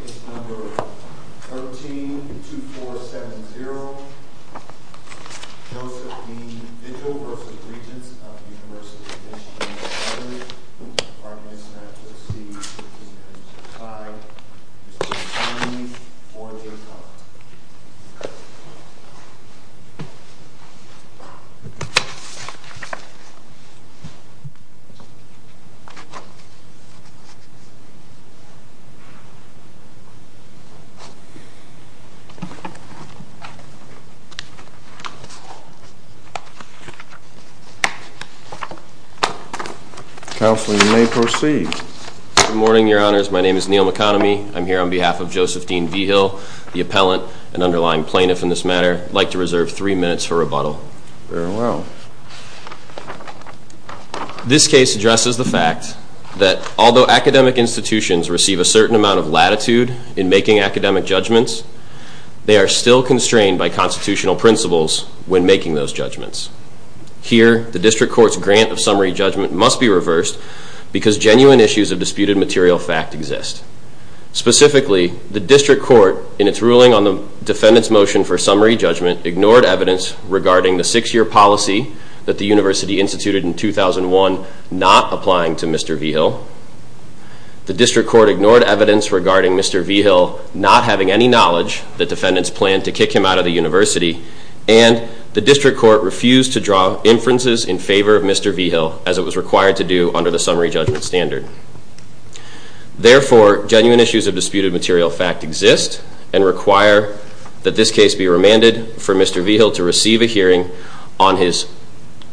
Case number 13-2470, Josephine Vigil v. Regents of University of Michigan at Harvard. Good morning, Your Honors. My name is Neal McConomy. I'm here on behalf of Josephine Vigil, the appellant and underlying plaintiff in this matter. I'd like to reserve three minutes for rebuttal. Very well. This case addresses the fact that although academic institutions receive a certain amount of latitude in making academic judgments, they are still constrained by constitutional principles when making those judgments. Here, the District Court's grant of summary judgment must be reversed because genuine issues of disputed material fact exist. Specifically, the District Court, in its ruling on the defendant's motion for summary judgment, ignored evidence regarding the six-year policy that the University instituted in 2001 not applying to Mr. Vigil. The District Court ignored evidence regarding Mr. Vigil not having any knowledge that defendants planned to kick him out of the University. And the District Court refused to draw inferences in favor of Mr. Vigil as it was required to do under the summary judgment standard. Therefore, genuine issues of disputed material fact exist and require that this case be remanded for Mr. Vigil to receive a hearing on his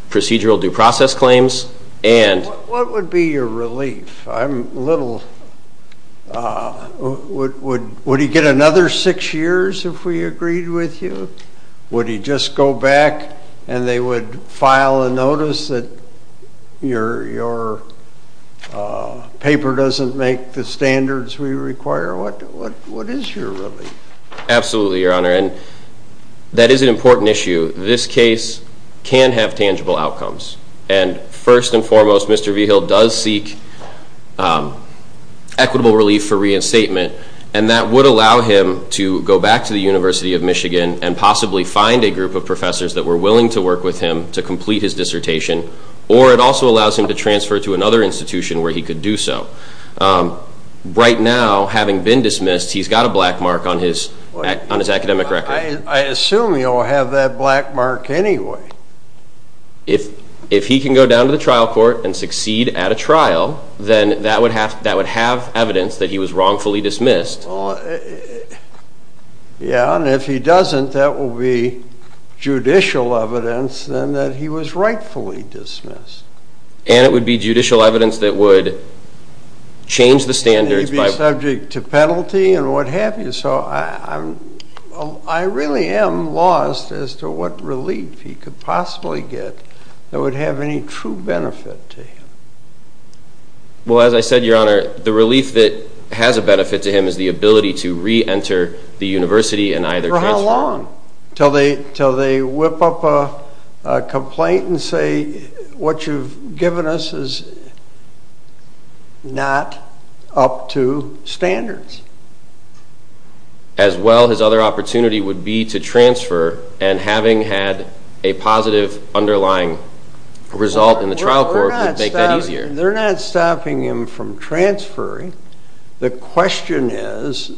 procedural due process claims and... What would be your relief? I'm a little... Would he get another six years if we agreed with you? Would he just go back and they would file a notice that your paper doesn't make the standards we require? What is your relief? Absolutely, Your Honor, and that is an important issue. This case can have tangible outcomes. And first and foremost, Mr. Vigil does seek equitable relief for reinstatement. And that would allow him to go back to the University of Michigan and possibly find a group of professors that were willing to work with him to complete his dissertation. Or it also allows him to transfer to another institution where he could do so. Right now, having been dismissed, he's got a black mark on his academic record. I assume he'll have that black mark anyway. If he can go down to the trial court and succeed at a trial, then that would have evidence that he was wrongfully dismissed. Yeah, and if he doesn't, that will be judicial evidence then that he was rightfully dismissed. And it would be judicial evidence that would change the standards by... that would have any true benefit to him. Well, as I said, Your Honor, the relief that has a benefit to him is the ability to re-enter the university and either transfer or not. For how long? Until they whip up a complaint and say what you've given us is not up to standards. As well, his other opportunity would be to transfer and having had a positive underlying result in the trial court would make that easier. They're not stopping him from transferring. The question is,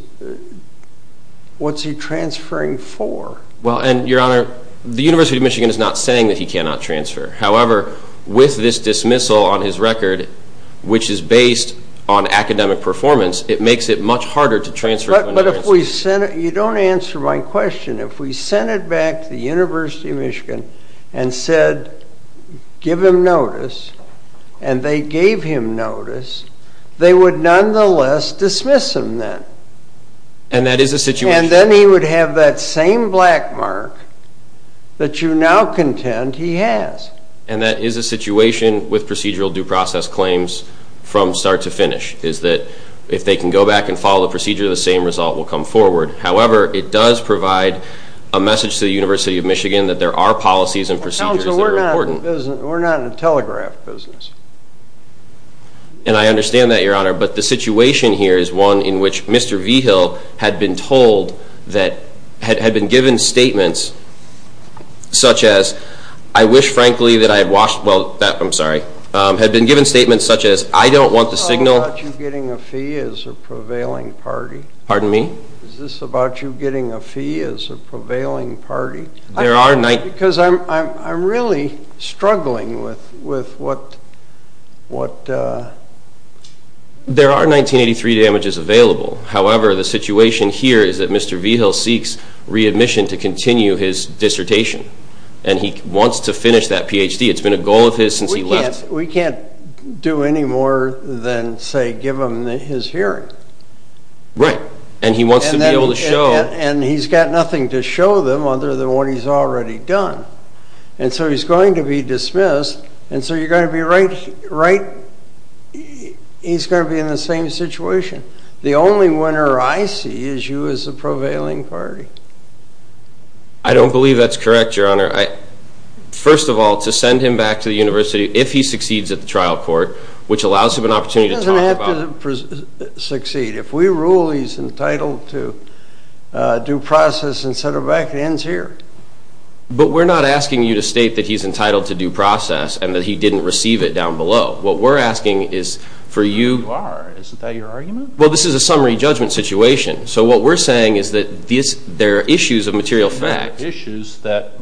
what's he transferring for? Well, and Your Honor, the University of Michigan is not saying that he cannot transfer. However, with this dismissal on his record, which is based on academic performance, it makes it much harder to transfer... But if we sent it... you don't answer my question. If we sent it back to the University of Michigan and said, give him notice, and they gave him notice, they would nonetheless dismiss him then. And that is a situation... And that is a situation with procedural due process claims from start to finish, is that if they can go back and follow the procedure, the same result will come forward. However, it does provide a message to the University of Michigan that there are policies and procedures that are important. We're not in the telegraph business. And I understand that, Your Honor, but the situation here is one in which Mr. Vigil had been told that... I wish, frankly, that I had watched... well, I'm sorry... had been given statements such as, I don't want the signal... Is this about you getting a fee as a prevailing party? Pardon me? Is this about you getting a fee as a prevailing party? There are... Because I'm really struggling with what... There are 1983 damages available. However, the situation here is that Mr. Vigil seeks readmission to continue his dissertation. And he wants to finish that PhD. It's been a goal of his since he left... We can't do any more than, say, give him his hearing. Right. And he wants to be able to show... And he's got nothing to show them other than what he's already done. And so he's going to be dismissed. And so you're going to be right... he's going to be in the same situation. The only winner I see is you as a prevailing party. I don't believe that's correct, Your Honor. First of all, to send him back to the university if he succeeds at the trial court, which allows him an opportunity to talk about... He doesn't have to succeed. If we rule he's entitled to due process and set him back, it ends here. But we're not asking you to state that he's entitled to due process and that he didn't receive it down below. What we're asking is for you... Well, you are. Isn't that your argument? Well, this is a summary judgment situation. So what we're saying is that there are issues of material fact. There are issues that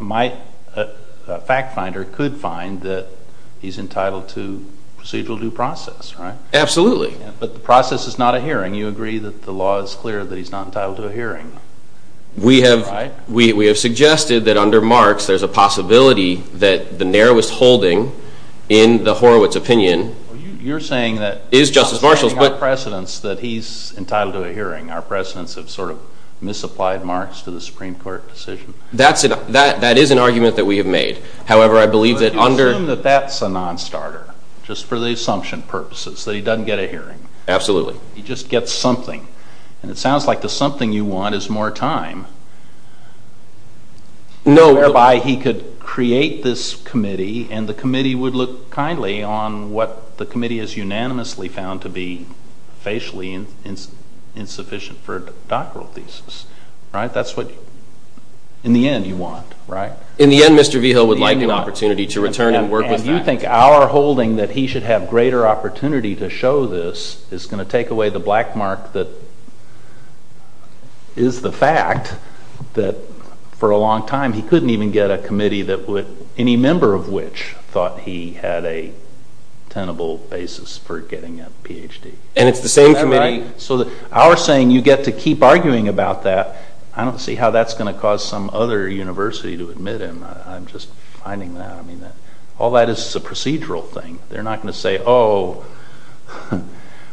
a fact finder could find that he's entitled to procedural due process, right? Absolutely. But the process is not a hearing. You agree that the law is clear that he's not entitled to a hearing, right? We have suggested that under Marx there's a possibility that the narrowest holding in the Horowitz opinion... You're saying that... ...have sort of misapplied Marx to the Supreme Court decision? That is an argument that we have made. However, I believe that under... But you assume that that's a non-starter, just for the assumption purposes, that he doesn't get a hearing. Absolutely. He just gets something. And it sounds like the something you want is more time... No... ...whereby he could create this committee and the committee would look kindly on what the committee has unanimously found to be facially insufficient for a doctoral thesis, right? That's what, in the end, you want, right? In the end, Mr. Vigil would like an opportunity to return and work with that. And you think our holding that he should have greater opportunity to show this is going to take away the black mark that is the fact that for a long time he couldn't even get a committee that would... And it's the same committee... So our saying you get to keep arguing about that, I don't see how that's going to cause some other university to admit him. I'm just finding that all that is a procedural thing. They're not going to say, oh,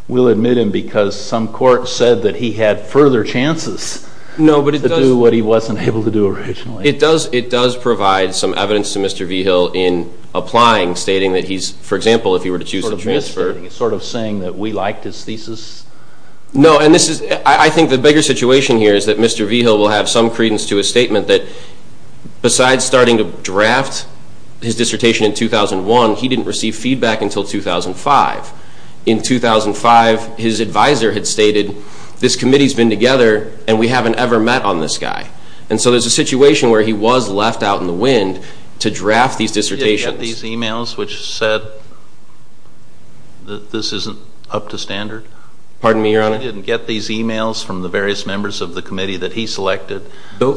we'll admit him because some court said that he had further chances to do what he wasn't able to do originally. It does provide some evidence to Mr. Vigil in applying, stating that he's, for example, if he were to choose to transfer, he's sort of saying that we liked his thesis? No, and this is, I think the bigger situation here is that Mr. Vigil will have some credence to his statement that besides starting to draft his dissertation in 2001, he didn't receive feedback until 2005. In 2005, his advisor had stated, this committee's been together and we haven't ever met on this guy. And so there's a situation where he was left out in the wind to draft these dissertations. He didn't get these e-mails which said that this isn't up to standard? Pardon me, Your Honor? He didn't get these e-mails from the various members of the committee that he selected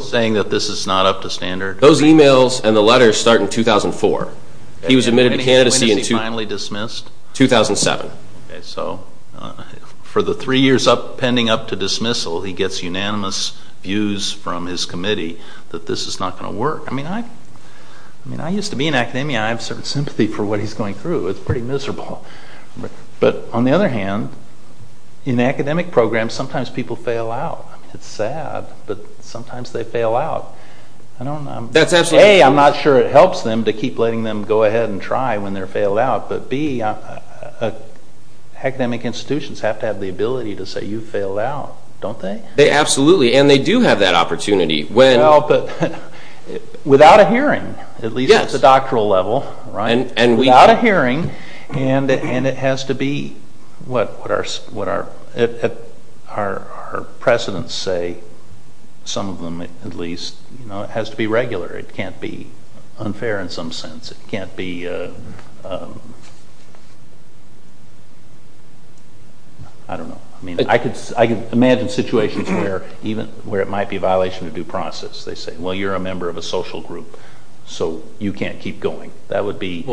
saying that this is not up to standard? Those e-mails and the letters start in 2004. When was he finally dismissed? 2007. Okay, so for the three years pending up to dismissal, he gets unanimous views from his committee that this is not going to work. I mean, I used to be in academia. I have a certain sympathy for what he's going through. It's pretty miserable. But on the other hand, in academic programs, sometimes people fail out. It's sad, but sometimes they fail out. A, I'm not sure it helps them to keep letting them go ahead and try when they're failed out. But B, academic institutions have to have the ability to say, you failed out, don't they? Absolutely, and they do have that opportunity. Well, but without a hearing, at least at the doctoral level, without a hearing, and it has to be what our precedents say, some of them at least. It has to be regular. It can't be unfair in some sense. It can't be, I don't know. I can imagine situations where it might be a violation of due process. They say, well, you're a member of a social group, so you can't keep going. That would be,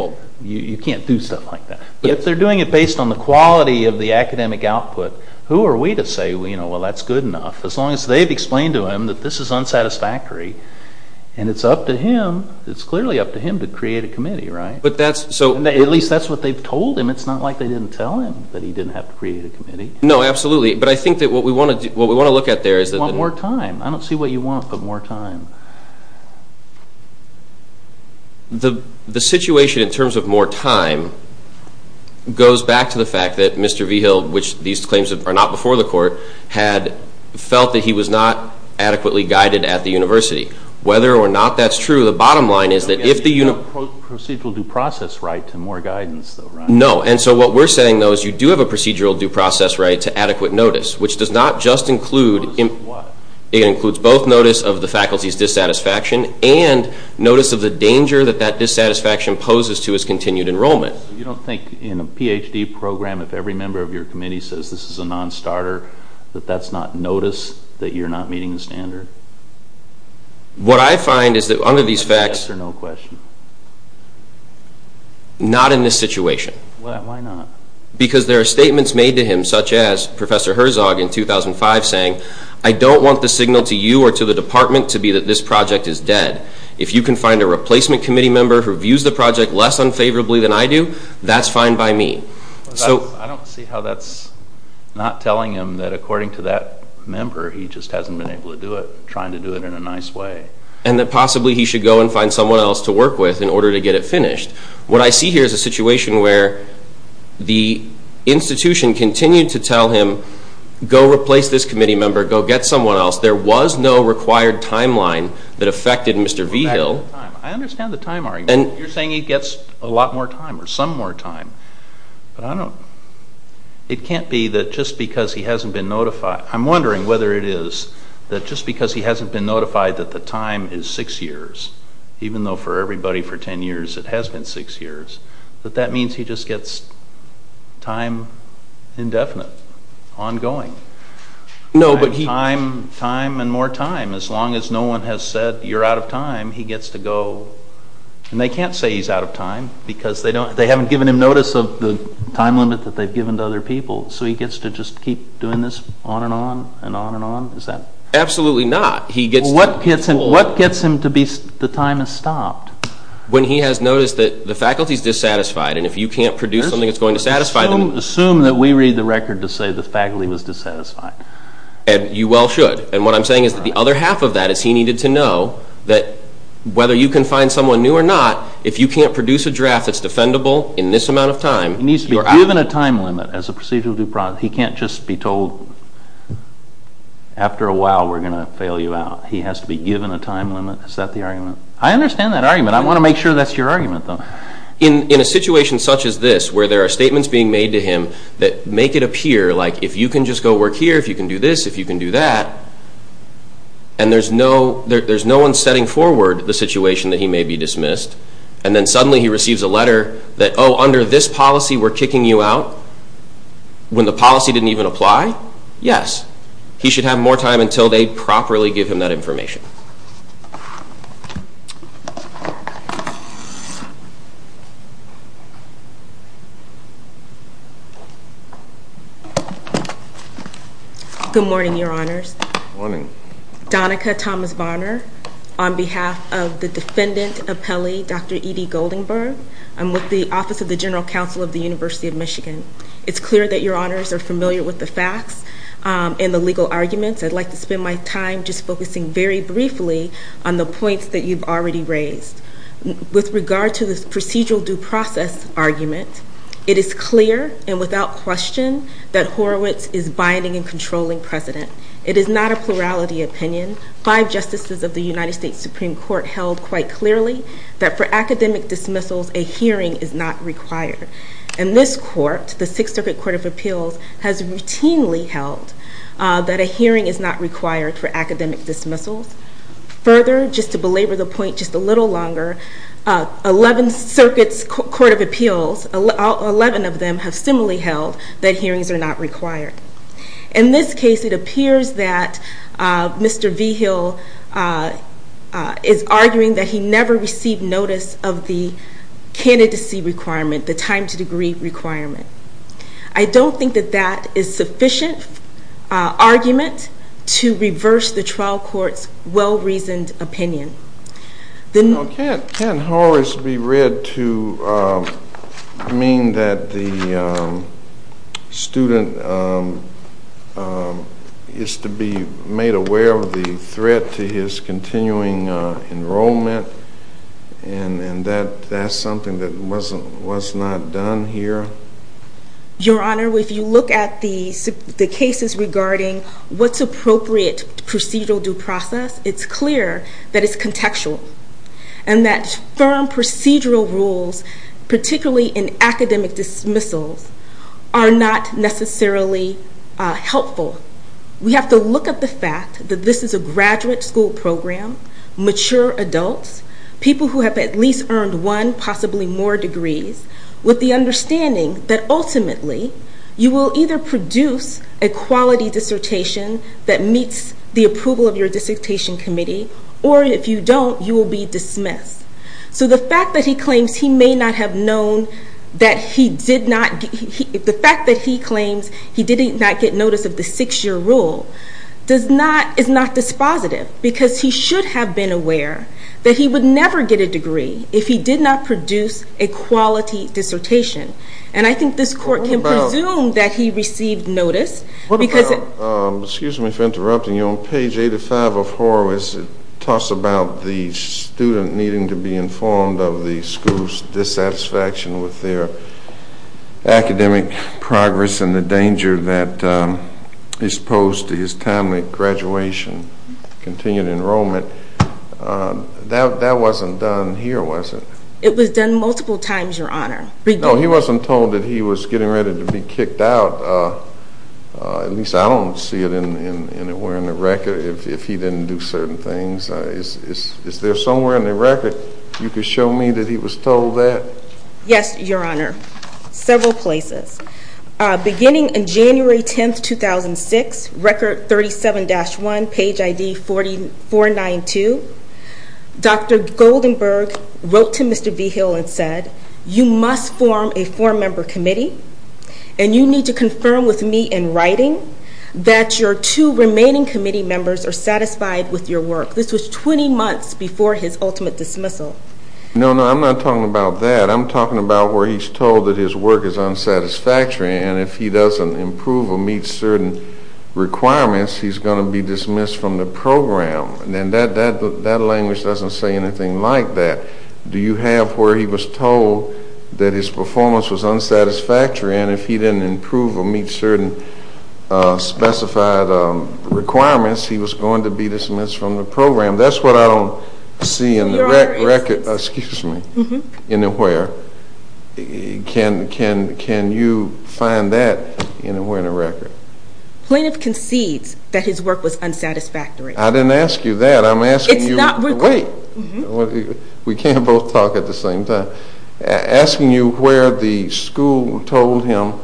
you can't do stuff like that. But if they're doing it based on the quality of the academic output, who are we to say, well, that's good enough? As long as they've explained to him that this is unsatisfactory, and it's up to him, it's clearly up to him to create a committee, right? At least that's what they've told him. And it's not like they didn't tell him that he didn't have to create a committee. No, absolutely, but I think that what we want to look at there is that the Want more time. I don't see what you want, but more time. The situation in terms of more time goes back to the fact that Mr. Vigil, which these claims are not before the Court, had felt that he was not adequately guided at the university. Whether or not that's true, the bottom line is that if the You have a procedural due process right to more guidance, though, right? No, and so what we're saying, though, is you do have a procedural due process right to adequate notice, which does not just include Notice of what? It includes both notice of the faculty's dissatisfaction and notice of the danger that that dissatisfaction poses to his continued enrollment. You don't think in a Ph.D. program, if every member of your committee says this is a non-starter, that that's not notice that you're not meeting the standard? What I find is that under these facts, not in this situation. Why not? Because there are statements made to him, such as Professor Herzog in 2005 saying, I don't want the signal to you or to the department to be that this project is dead. If you can find a replacement committee member who views the project less unfavorably than I do, that's fine by me. I don't see how that's not telling him that according to that member, he just hasn't been able to do it, trying to do it in a nice way. And that possibly he should go and find someone else to work with in order to get it finished. What I see here is a situation where the institution continued to tell him, go replace this committee member, go get someone else. There was no required timeline that affected Mr. Vigil. I understand the time, Ari, but you're saying he gets a lot more time or some more time. It can't be that just because he hasn't been notified. I'm wondering whether it is that just because he hasn't been notified that the time is six years, even though for everybody for ten years it has been six years, that that means he just gets time indefinite, ongoing. Time and more time. As long as no one has said you're out of time, he gets to go. And they can't say he's out of time because they haven't given him notice of the time limit that they've given to other people. So he gets to just keep doing this on and on and on and on? Absolutely not. What gets him to be the time has stopped? When he has noticed that the faculty is dissatisfied and if you can't produce something that's going to satisfy them. Assume that we read the record to say the faculty was dissatisfied. And you well should. And what I'm saying is that the other half of that is he needed to know that whether you can find someone new or not, if you can't produce a draft that's defendable in this amount of time, he needs to be given a time limit as a procedural due process. He can't just be told after a while we're going to fail you out. He has to be given a time limit. Is that the argument? I understand that argument. I want to make sure that's your argument though. In a situation such as this where there are statements being made to him that make it appear like if you can just go work here, if you can do this, if you can do that, and there's no one setting forward the situation that he may be dismissed, and then suddenly he receives a letter that, oh, under this policy we're kicking you out when the policy didn't even apply? Yes. He should have more time until they properly give him that information. Good morning, Your Honors. Morning. Donika Thomas Bonner on behalf of the defendant appellee, Dr. E.D. Goldenberg. I'm with the Office of the General Counsel of the University of Michigan. It's clear that Your Honors are familiar with the facts and the legal arguments. I'd like to spend my time just focusing very briefly on the points that you've already raised. With regard to the procedural due process argument, it is clear and without question that Horowitz is binding and controlling precedent. It is not a plurality opinion. Five justices of the United States Supreme Court held quite clearly that for academic dismissals a hearing is not required. And this court, the Sixth Circuit Court of Appeals, has routinely held that a hearing is not required for academic dismissals. Further, just to belabor the point just a little longer, 11 circuits, court of appeals, 11 of them have similarly held that hearings are not required. In this case, it appears that Mr. Vigil is arguing that he never received notice of the candidacy requirement, the time to degree requirement. I don't think that that is sufficient argument to reverse the trial court's well-reasoned opinion. Can't Horowitz be read to mean that the student is to be made aware of the threat to his continuing enrollment and that that's something that was not done here? Your Honor, if you look at the cases regarding what's appropriate procedural due process, it's clear that it's contextual and that firm procedural rules, particularly in academic dismissals, are not necessarily helpful. We have to look at the fact that this is a graduate school program, mature adults, people who have at least earned one, possibly more degrees, with the understanding that ultimately you will either produce a quality dissertation that meets the approval of your dissertation committee, or if you don't, you will be dismissed. So the fact that he claims he may not have known that he did not get notice of the six-year rule is not dispositive because he should have been aware that he would never get a degree if he did not produce a quality dissertation. And I think this court can presume that he received notice. Excuse me for interrupting you. On page 85 of Horowitz, it talks about the student needing to be informed of the school's dissatisfaction with their academic progress and the danger that is posed to his timely graduation, continued enrollment. That wasn't done here, was it? It was done multiple times, Your Honor. No, he wasn't told that he was getting ready to be kicked out. At least I don't see it anywhere in the record if he didn't do certain things. Is there somewhere in the record you could show me that he was told that? Yes, Your Honor, several places. Beginning January 10, 2006, record 37-1, page ID 4492, Dr. Goldenberg wrote to Mr. Vigil and said, You must form a four-member committee, and you need to confirm with me in writing that your two remaining committee members are satisfied with your work. This was 20 months before his ultimate dismissal. No, no, I'm not talking about that. I'm talking about where he's told that his work is unsatisfactory, and if he doesn't improve or meet certain requirements, he's going to be dismissed from the program. And that language doesn't say anything like that. Do you have where he was told that his performance was unsatisfactory, and if he didn't improve or meet certain specified requirements, he was going to be dismissed from the program. That's what I don't see in the record anywhere. Can you find that anywhere in the record? Plaintiff concedes that his work was unsatisfactory. I didn't ask you that. Wait, we can't both talk at the same time. Asking you where the school told him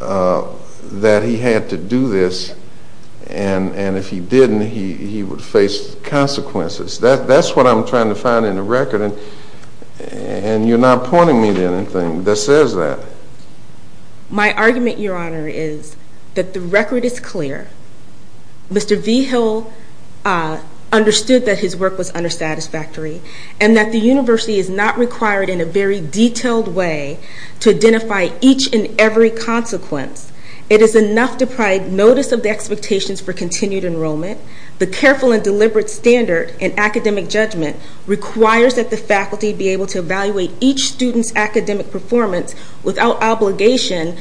that he had to do this, and if he didn't, he would face consequences. That's what I'm trying to find in the record, and you're not pointing me to anything that says that. My argument, Your Honor, is that the record is clear. Mr. Vigil understood that his work was unsatisfactory, and that the university is not required in a very detailed way to identify each and every consequence. It is enough to provide notice of the expectations for continued enrollment. The careful and deliberate standard in academic judgment requires that the faculty be able to evaluate each student's academic performance without obligation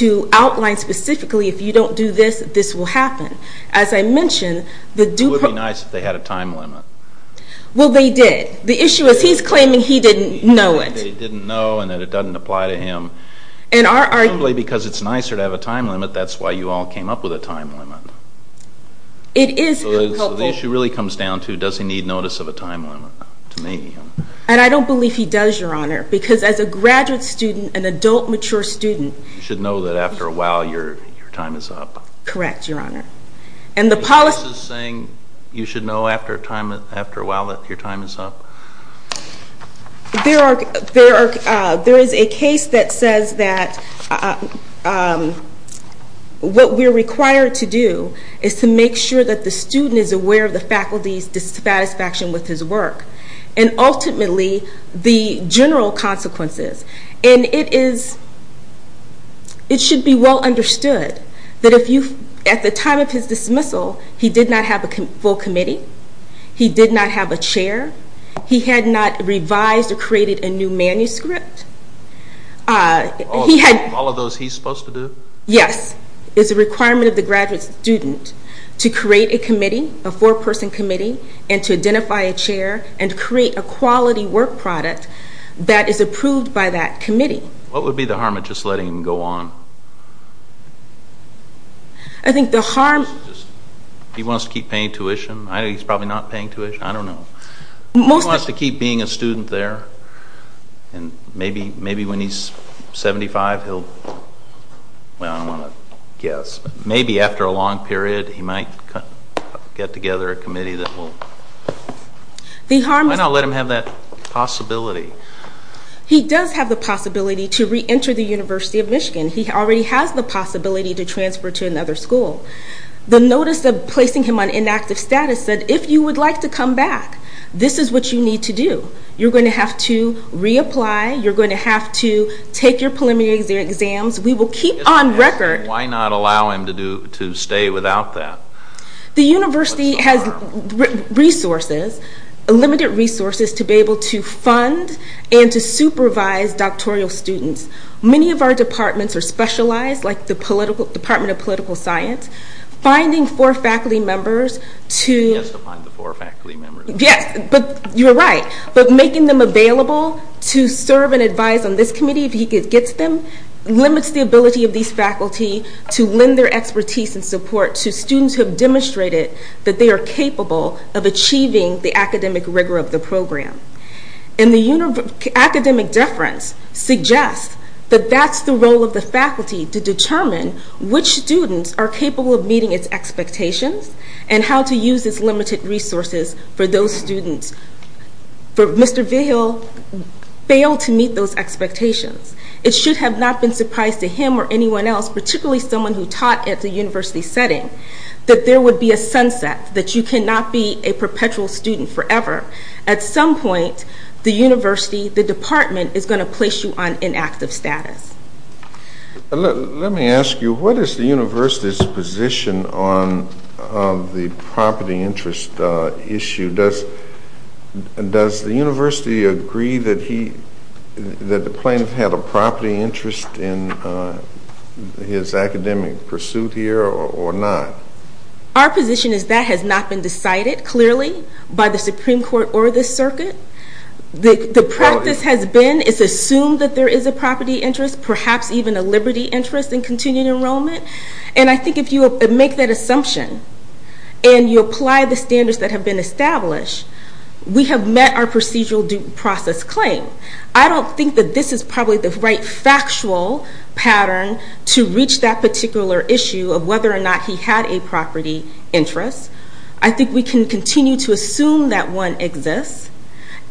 to outline specifically, if you don't do this, this will happen. It would be nice if they had a time limit. Well, they did. The issue is he's claiming he didn't know it. He's claiming that he didn't know and that it doesn't apply to him. Presumably because it's nicer to have a time limit, that's why you all came up with a time limit. It is helpful. So the issue really comes down to, does he need notice of a time limit? And I don't believe he does, Your Honor, because as a graduate student, an adult, mature student... You should know that after a while your time is up. Correct, Your Honor. And the policy... Are you saying you should know after a while that your time is up? There is a case that says that what we're required to do is to make sure that the student is aware of the faculty's dissatisfaction with his work and ultimately the general consequences. And it should be well understood that at the time of his dismissal, he did not have a full committee. He did not have a chair. He had not revised or created a new manuscript. All of those he's supposed to do? Yes. It's a requirement of the graduate student to create a committee, a four-person committee, and to identify a chair and create a quality work product that is approved by that committee. What would be the harm of just letting him go on? I think the harm... He wants to keep paying tuition? I know he's probably not paying tuition. I don't know. He wants to keep being a student there, and maybe when he's 75 he'll... Well, I don't want to guess, but maybe after a long period he might get together a committee that will... Why not let him have that possibility? He does have the possibility to reenter the University of Michigan. He already has the possibility to transfer to another school. The notice of placing him on inactive status said, if you would like to come back, this is what you need to do. You're going to have to reapply. You're going to have to take your preliminary exams. We will keep on record... Why not allow him to stay without that? The university has resources, limited resources to be able to fund and to supervise doctoral students. Many of our departments are specialized, like the Department of Political Science. Finding four faculty members to... He has to find the four faculty members. Yes, but you're right. Making them available to serve and advise on this committee, if he gets them, limits the ability of these faculty to lend their expertise and support to students who have demonstrated that they are capable of achieving the academic rigor of the program. And the academic deference suggests that that's the role of the faculty to determine which students are capable of meeting its expectations and how to use its limited resources for those students. Mr. Vigil failed to meet those expectations. It should have not been a surprise to him or anyone else, particularly someone who taught at the university setting, that there would be a sunset, that you cannot be a perpetual student forever. At some point, the university, the department, is going to place you on inactive status. Let me ask you, what is the university's position on the property interest issue? Does the university agree that the plaintiff had a property interest in his academic pursuit here or not? Our position is that has not been decided, clearly, by the Supreme Court or the circuit. The practice has been, it's assumed that there is a property interest, perhaps even a liberty interest in continuing enrollment. And I think if you make that assumption and you apply the standards that have been established, we have met our procedural due process claim. I don't think that this is probably the right factual pattern to reach that particular issue of whether or not he had a property interest. I think we can continue to assume that one exists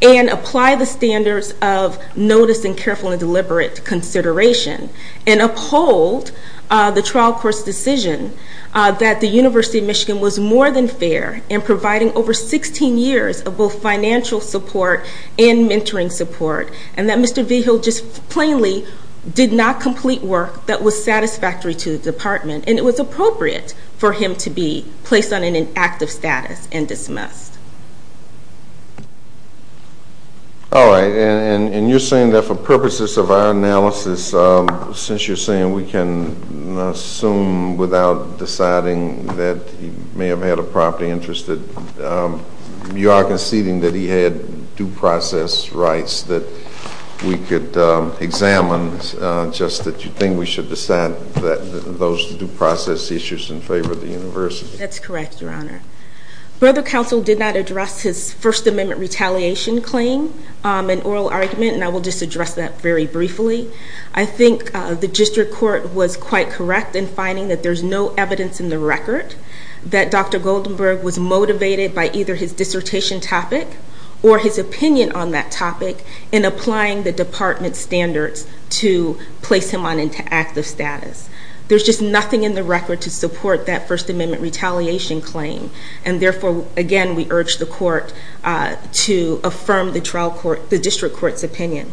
and apply the standards of notice and careful and deliberate consideration and uphold the trial court's decision that the University of Michigan was more than fair in providing over 16 years of both financial support and mentoring support, and that Mr. Vigil just plainly did not complete work that was satisfactory to the department. And it was appropriate for him to be placed on an inactive status and dismissed. All right. And you're saying that for purposes of our analysis, since you're saying we can assume without deciding that he may have had a property interest, you are conceding that he had due process rights that we could examine, just that you think we should decide those due process issues in favor of the university. That's correct, Your Honor. Brother Counsel did not address his First Amendment retaliation claim in oral argument, and I will just address that very briefly. I think the district court was quite correct in finding that there's no evidence in the record that Dr. Goldenberg was motivated by either his dissertation topic or his opinion on that topic in applying the department's standards to place him on inactive status. There's just nothing in the record to support that First Amendment retaliation claim. And therefore, again, we urge the court to affirm the district court's opinion.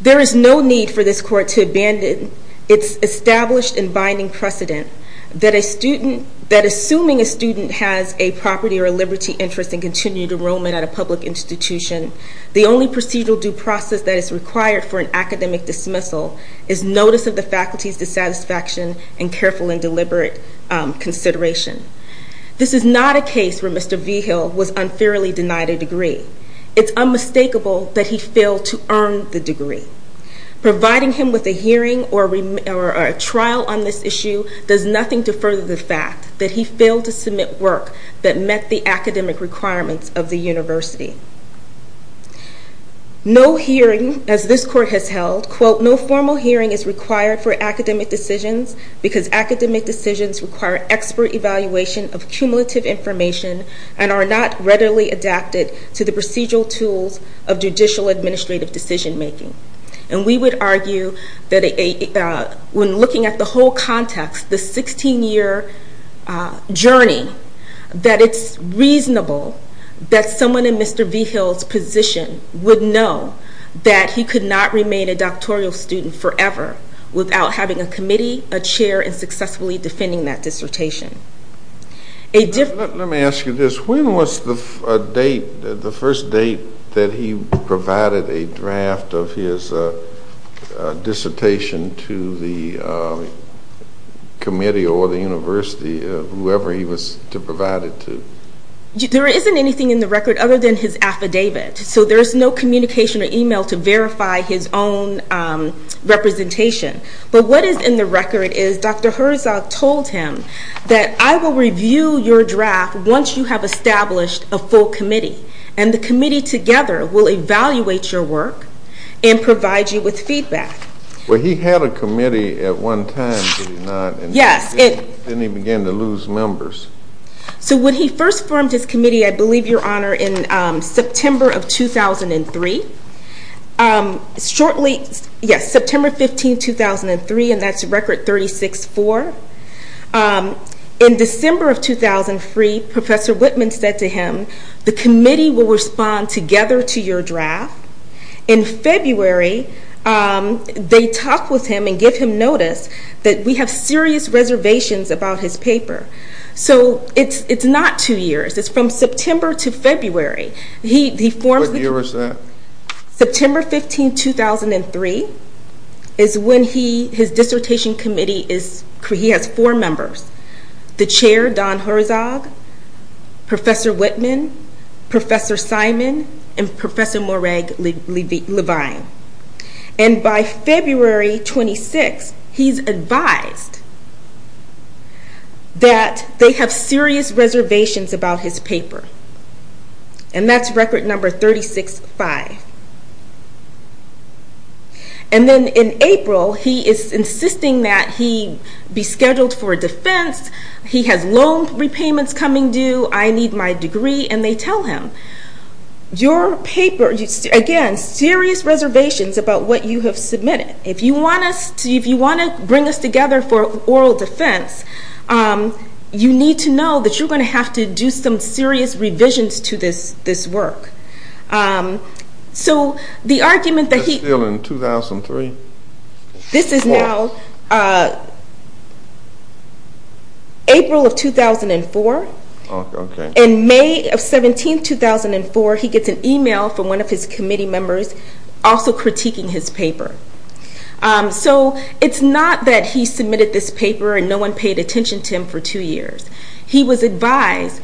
There is no need for this court to abandon its established and binding precedent that assuming a student has a property or a liberty interest in continued enrollment at a public institution, the only procedural due process that is required for an academic dismissal is notice of the faculty's dissatisfaction and careful and deliberate consideration. This is not a case where Mr. Vigil was unfairly denied a degree. It's unmistakable that he failed to earn the degree. Providing him with a hearing or a trial on this issue does nothing to further the fact that he failed to submit work that met the academic requirements of the university. No hearing, as this court has held, quote, no formal hearing is required for academic decisions because academic decisions require expert evaluation of cumulative information and are not readily adapted to the procedural tools of judicial administrative decision making. And we would argue that when looking at the whole context, the 16 year journey, that it's reasonable that someone in Mr. Vigil's position would know that he could not remain a doctoral student forever without having a committee, a chair, and successfully defending that dissertation. Let me ask you this, when was the date the first date that he provided a draft of his dissertation to the committee or the university, whoever he was to provide it to? There isn't anything in the record other than his affidavit, so there's no communication or email to verify his own representation. But what is in the record is Dr. Herzog told him that I will review your draft once you have established a full committee and the committee together will evaluate your work and provide you with feedback. Well he had a committee at one time, did he not? Yes. Then he began to lose members. So when he first formed his committee, I believe your honor, in September of 2003 shortly, yes, September 15, 2003, and that's record 36-4 in December of 2003, Professor Whitman said to him the committee will respond together to your draft In February, they talked with him and gave him notice that we have serious reservations about his paper. It's not two years, it's from September to February. What year was that? September 15, 2003 is when his dissertation committee has four members. The chair, Don Herzog Professor Whitman, Professor Simon and Professor Morag Levine. And by February 26, he's advised that they have serious reservations about his paper. And that's record number 36-5. And then in April, he is insisting that he be scheduled for defense he has loan repayments coming due I need my degree, and they tell him your paper, again, serious reservations about what you have submitted. If you want to bring us together for oral defense you need to know that you're going to have to do some serious revisions to this work. So the argument that he That's still in 2003? This is now April of 2004 In May of 17, 2004 he gets an email from one of his committee members also critiquing his paper. So it's not that he submitted this paper and no one paid attention to him for two years. He was advised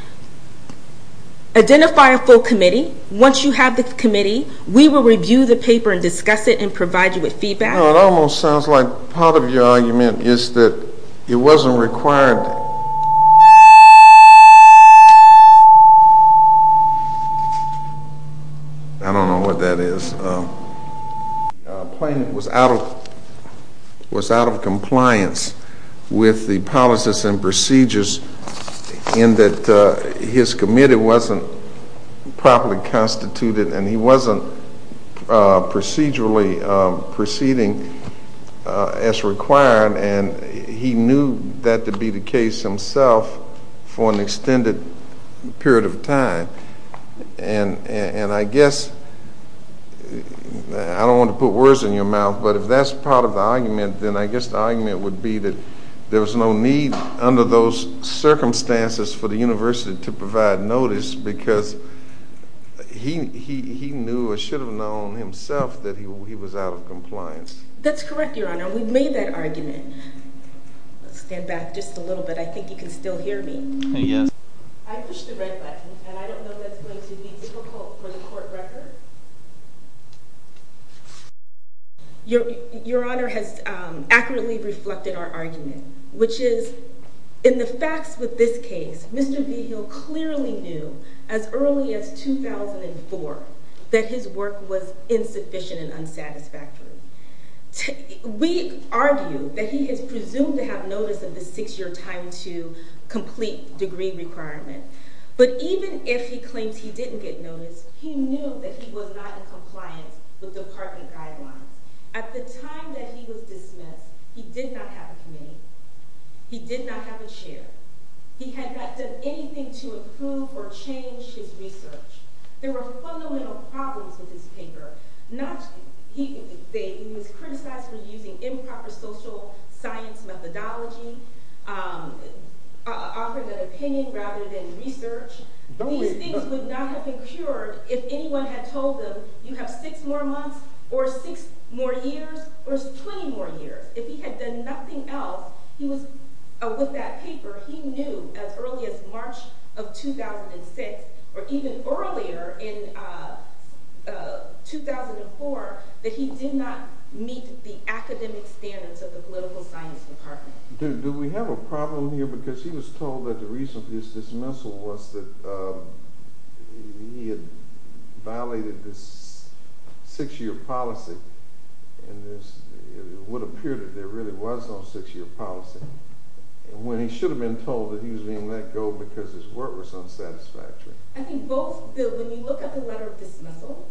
identify a full committee. Once you have the committee we will review the paper and discuss it and provide you with feedback. It almost sounds like part of your argument is that it wasn't required I don't know what that is was out of compliance with the policies and procedures in that his committee wasn't properly constituted and he wasn't procedurally proceeding as required and he knew that to be the case himself for an extended period of time and I guess I don't want to put words in your mouth but if that's part of the argument then I guess the argument would be that there was no need under those circumstances for the university to provide notice because he knew or should have known himself that he was out of compliance. That's correct your honor. We've made that argument. Let's stand back just a little bit. I think you can still hear me. Yes. I pushed the red button and I don't know if that's going to be difficult for the court record. Your honor has accurately reflected our argument which is in the facts with this case Mr. Vigil clearly knew as early as 2004 that his work was insufficient and unsatisfactory. We argue that he is presumed to have notice of the six year time to complete degree requirement but even if he claims he didn't get notice he knew that he was not in compliance with department guidelines. At the time that he was dismissed he did not have a committee. He did not have a chair. He had not done anything to improve or change his research. There were fundamental problems with his paper. He was criticized for using improper social science methodology offering an opinion rather than research. These things would not have been cured if anyone had told him you have six more months or six more years or twenty more years. If he had done nothing else with that paper he knew as early as March of 2006 or even earlier in 2004 that he did not meet the academic standards of the political science department. Do we have a problem here because he was told that the reason for his dismissal was that he had violated this six year policy and it would appear that there really was no six year policy when he should have been told that he was being let go because his work was unsatisfactory. When you look at the letter of dismissal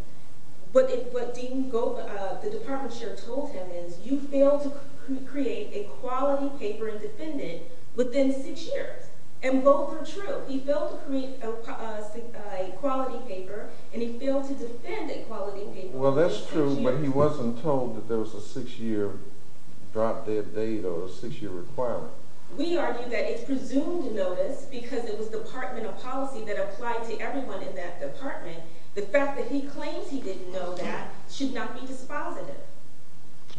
what the department chair told him is you failed to create a quality paper and defend it within six years and both are true. He failed to create a quality paper and he failed to defend a quality paper Well that's true but he wasn't told that there was a six year drop dead date or a six year requirement. We argue that it's presumed notice because it was departmental policy that applied to everyone in that department the fact that he claims he didn't know that should not be dispositive.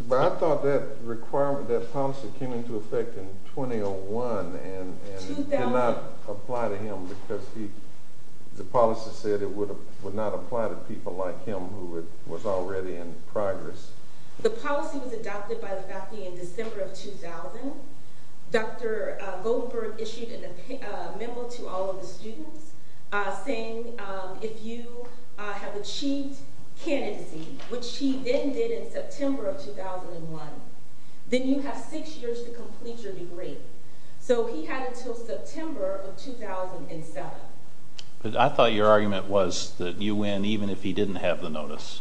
But I thought that policy came into effect in 2001 and it did not apply to him because the policy said it would not apply to people like him who was already in progress. The policy was adopted by the faculty in December of 2000 Dr. Goldenberg issued a memo to all of the students saying if you have achieved candidacy which he then did in September of 2001 then you have six years to complete your degree so he had until September of 2007 But I thought your argument was that you win even if he didn't have the notice.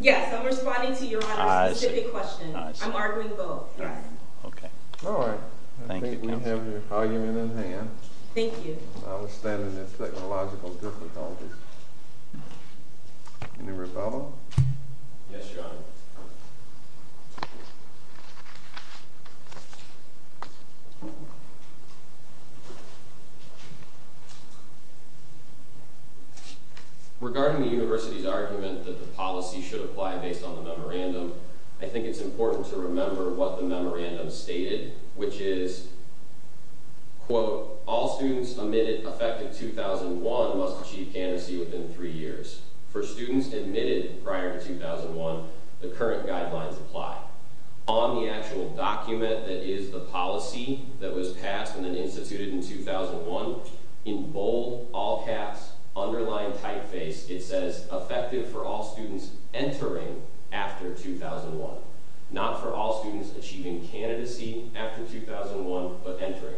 Yes, I'm responding to your honor's specific question. I'm arguing both. Alright, I think we have your argument in hand. Thank you. I was standing in technological difficulty. Any rebuttal? Yes, your honor. Regarding the university's argument that the policy should apply based on the memorandum I think it's important to remember what the memorandum stated which is quote, all students admitted effective 2001 must achieve candidacy within three years. For students admitted prior to 2001, the current guidelines apply. On the actual document that is the policy that was passed and then instituted in 2001, in bold, all caps underlying typeface, it says effective for all students entering after 2001 not for all students achieving candidacy after 2001, but entering.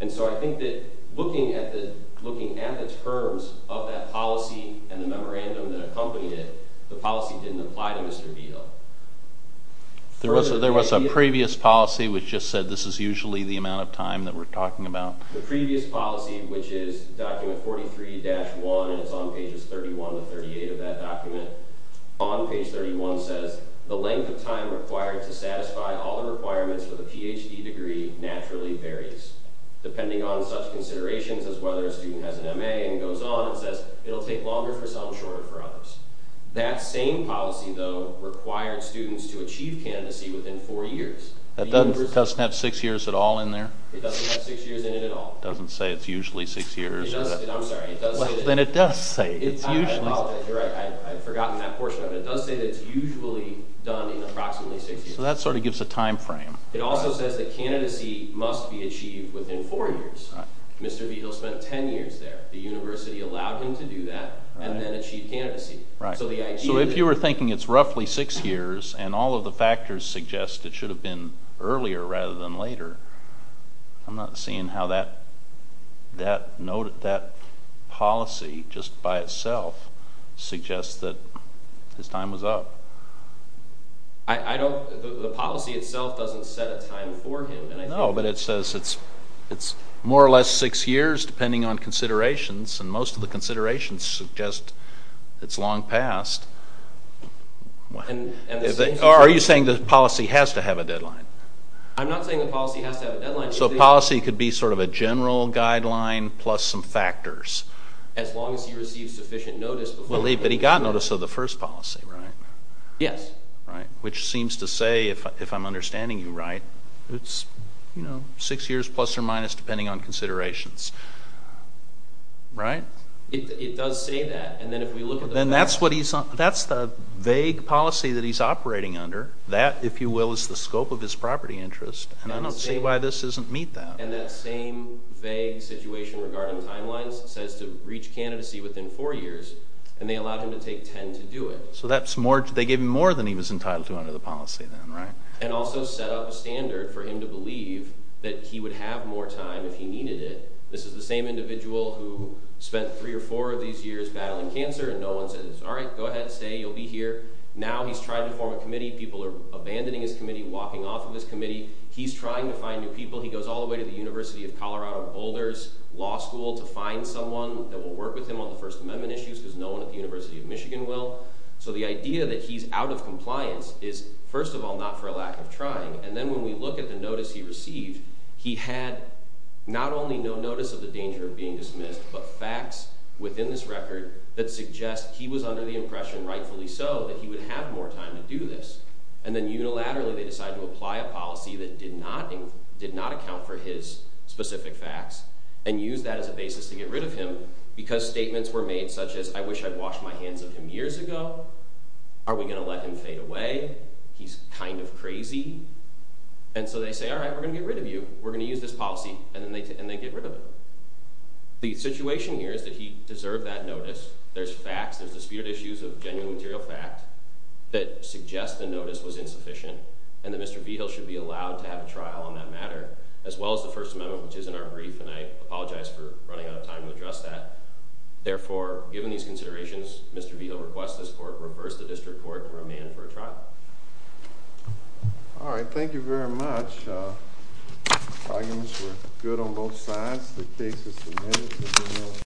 And so I think that looking at the terms of that policy and the memorandum that accompanied it the policy didn't apply to Mr. Beadle. There was a previous policy which just said this is usually the amount of time that we're talking about. The previous policy, which is document 43-1 and it's on pages 31 to 38 of that document on page 31 says the length of time required to satisfy all the requirements for the PhD degree naturally varies. Depending on such considerations as whether a student has an MA and goes on it says it'll take longer for some, shorter for others. That same policy, though, required students to achieve candidacy within 4 years. It doesn't have 6 years at all in there? It doesn't say it's usually 6 years. Then it does say it's usually 6 years. I'd forgotten that portion of it. It does say it's usually done in approximately 6 years. So that sort of gives a time frame. It also says that candidacy must be achieved within 4 years. Mr. Beadle spent 10 years there. The university allowed him to do that and then achieve candidacy. So if you were thinking it's roughly 6 years and all of the factors suggest it should have been earlier rather than later, I'm not seeing how that policy just by itself suggests that his time was up. The policy itself doesn't set a time for him. No, but it says it's more or less 6 years depending on considerations and most of the considerations suggest it's long past. Are you saying the policy has to have a deadline? I'm not saying the policy has to have a deadline. So the policy could be sort of a general guideline plus some factors. As long as he receives sufficient notice. But he got notice of the first policy, right? Yes. Which seems to say, if I'm understanding you right, it's 6 years plus or minus depending on considerations. It does say that. That's the vague policy that he's operating under. That, if you will, is the scope of his property interest. And I don't see why this doesn't meet that. And that same vague situation regarding timelines says to reach candidacy within 4 years and they allowed him to take 10 to do it. So they gave him more than he was entitled to under the policy then, right? And also set up a standard for him to believe that he would have more time if he needed it. This is the same individual who spent 3 or 4 of these years battling cancer and no one says, alright, go ahead, stay, you'll be here. Now he's trying to form a committee. People are abandoning his committee, walking off of his committee. He's trying to find new people. He goes all the way to the University of Colorado Boulders Law School to find someone that will work with him on the First Amendment issues because no one at the University of Michigan will. So the idea that he's out of compliance is first of all not for a lack of trying and then when we look at the notice he received, he had not only no notice of the danger of being dismissed but facts within this record that suggest he was under the impression rightfully so that he would have more time to do this. And then unilaterally they decided to apply a policy that did not account for his specific facts and use that as a basis to get rid of him because statements were made such as, I wish I'd washed my hands of him years ago. Are we going to let him fade away? He's kind of crazy. And so they say, alright, we're going to get rid of you. We're going to use this policy and they get rid of him. The situation here is that he deserved that notice. There's facts, there's disputed issues of genuine material fact that suggest the notice was insufficient and that Mr. Vigil should be allowed to have a trial on that matter as well as the First Amendment which is in our brief and I apologize for running out of time to address that. Therefore, given these considerations, Mr. Vigil requests this court reverse the district court and remand for a trial. Alright, thank you very much. Arguments were good on both sides. The case is submitted.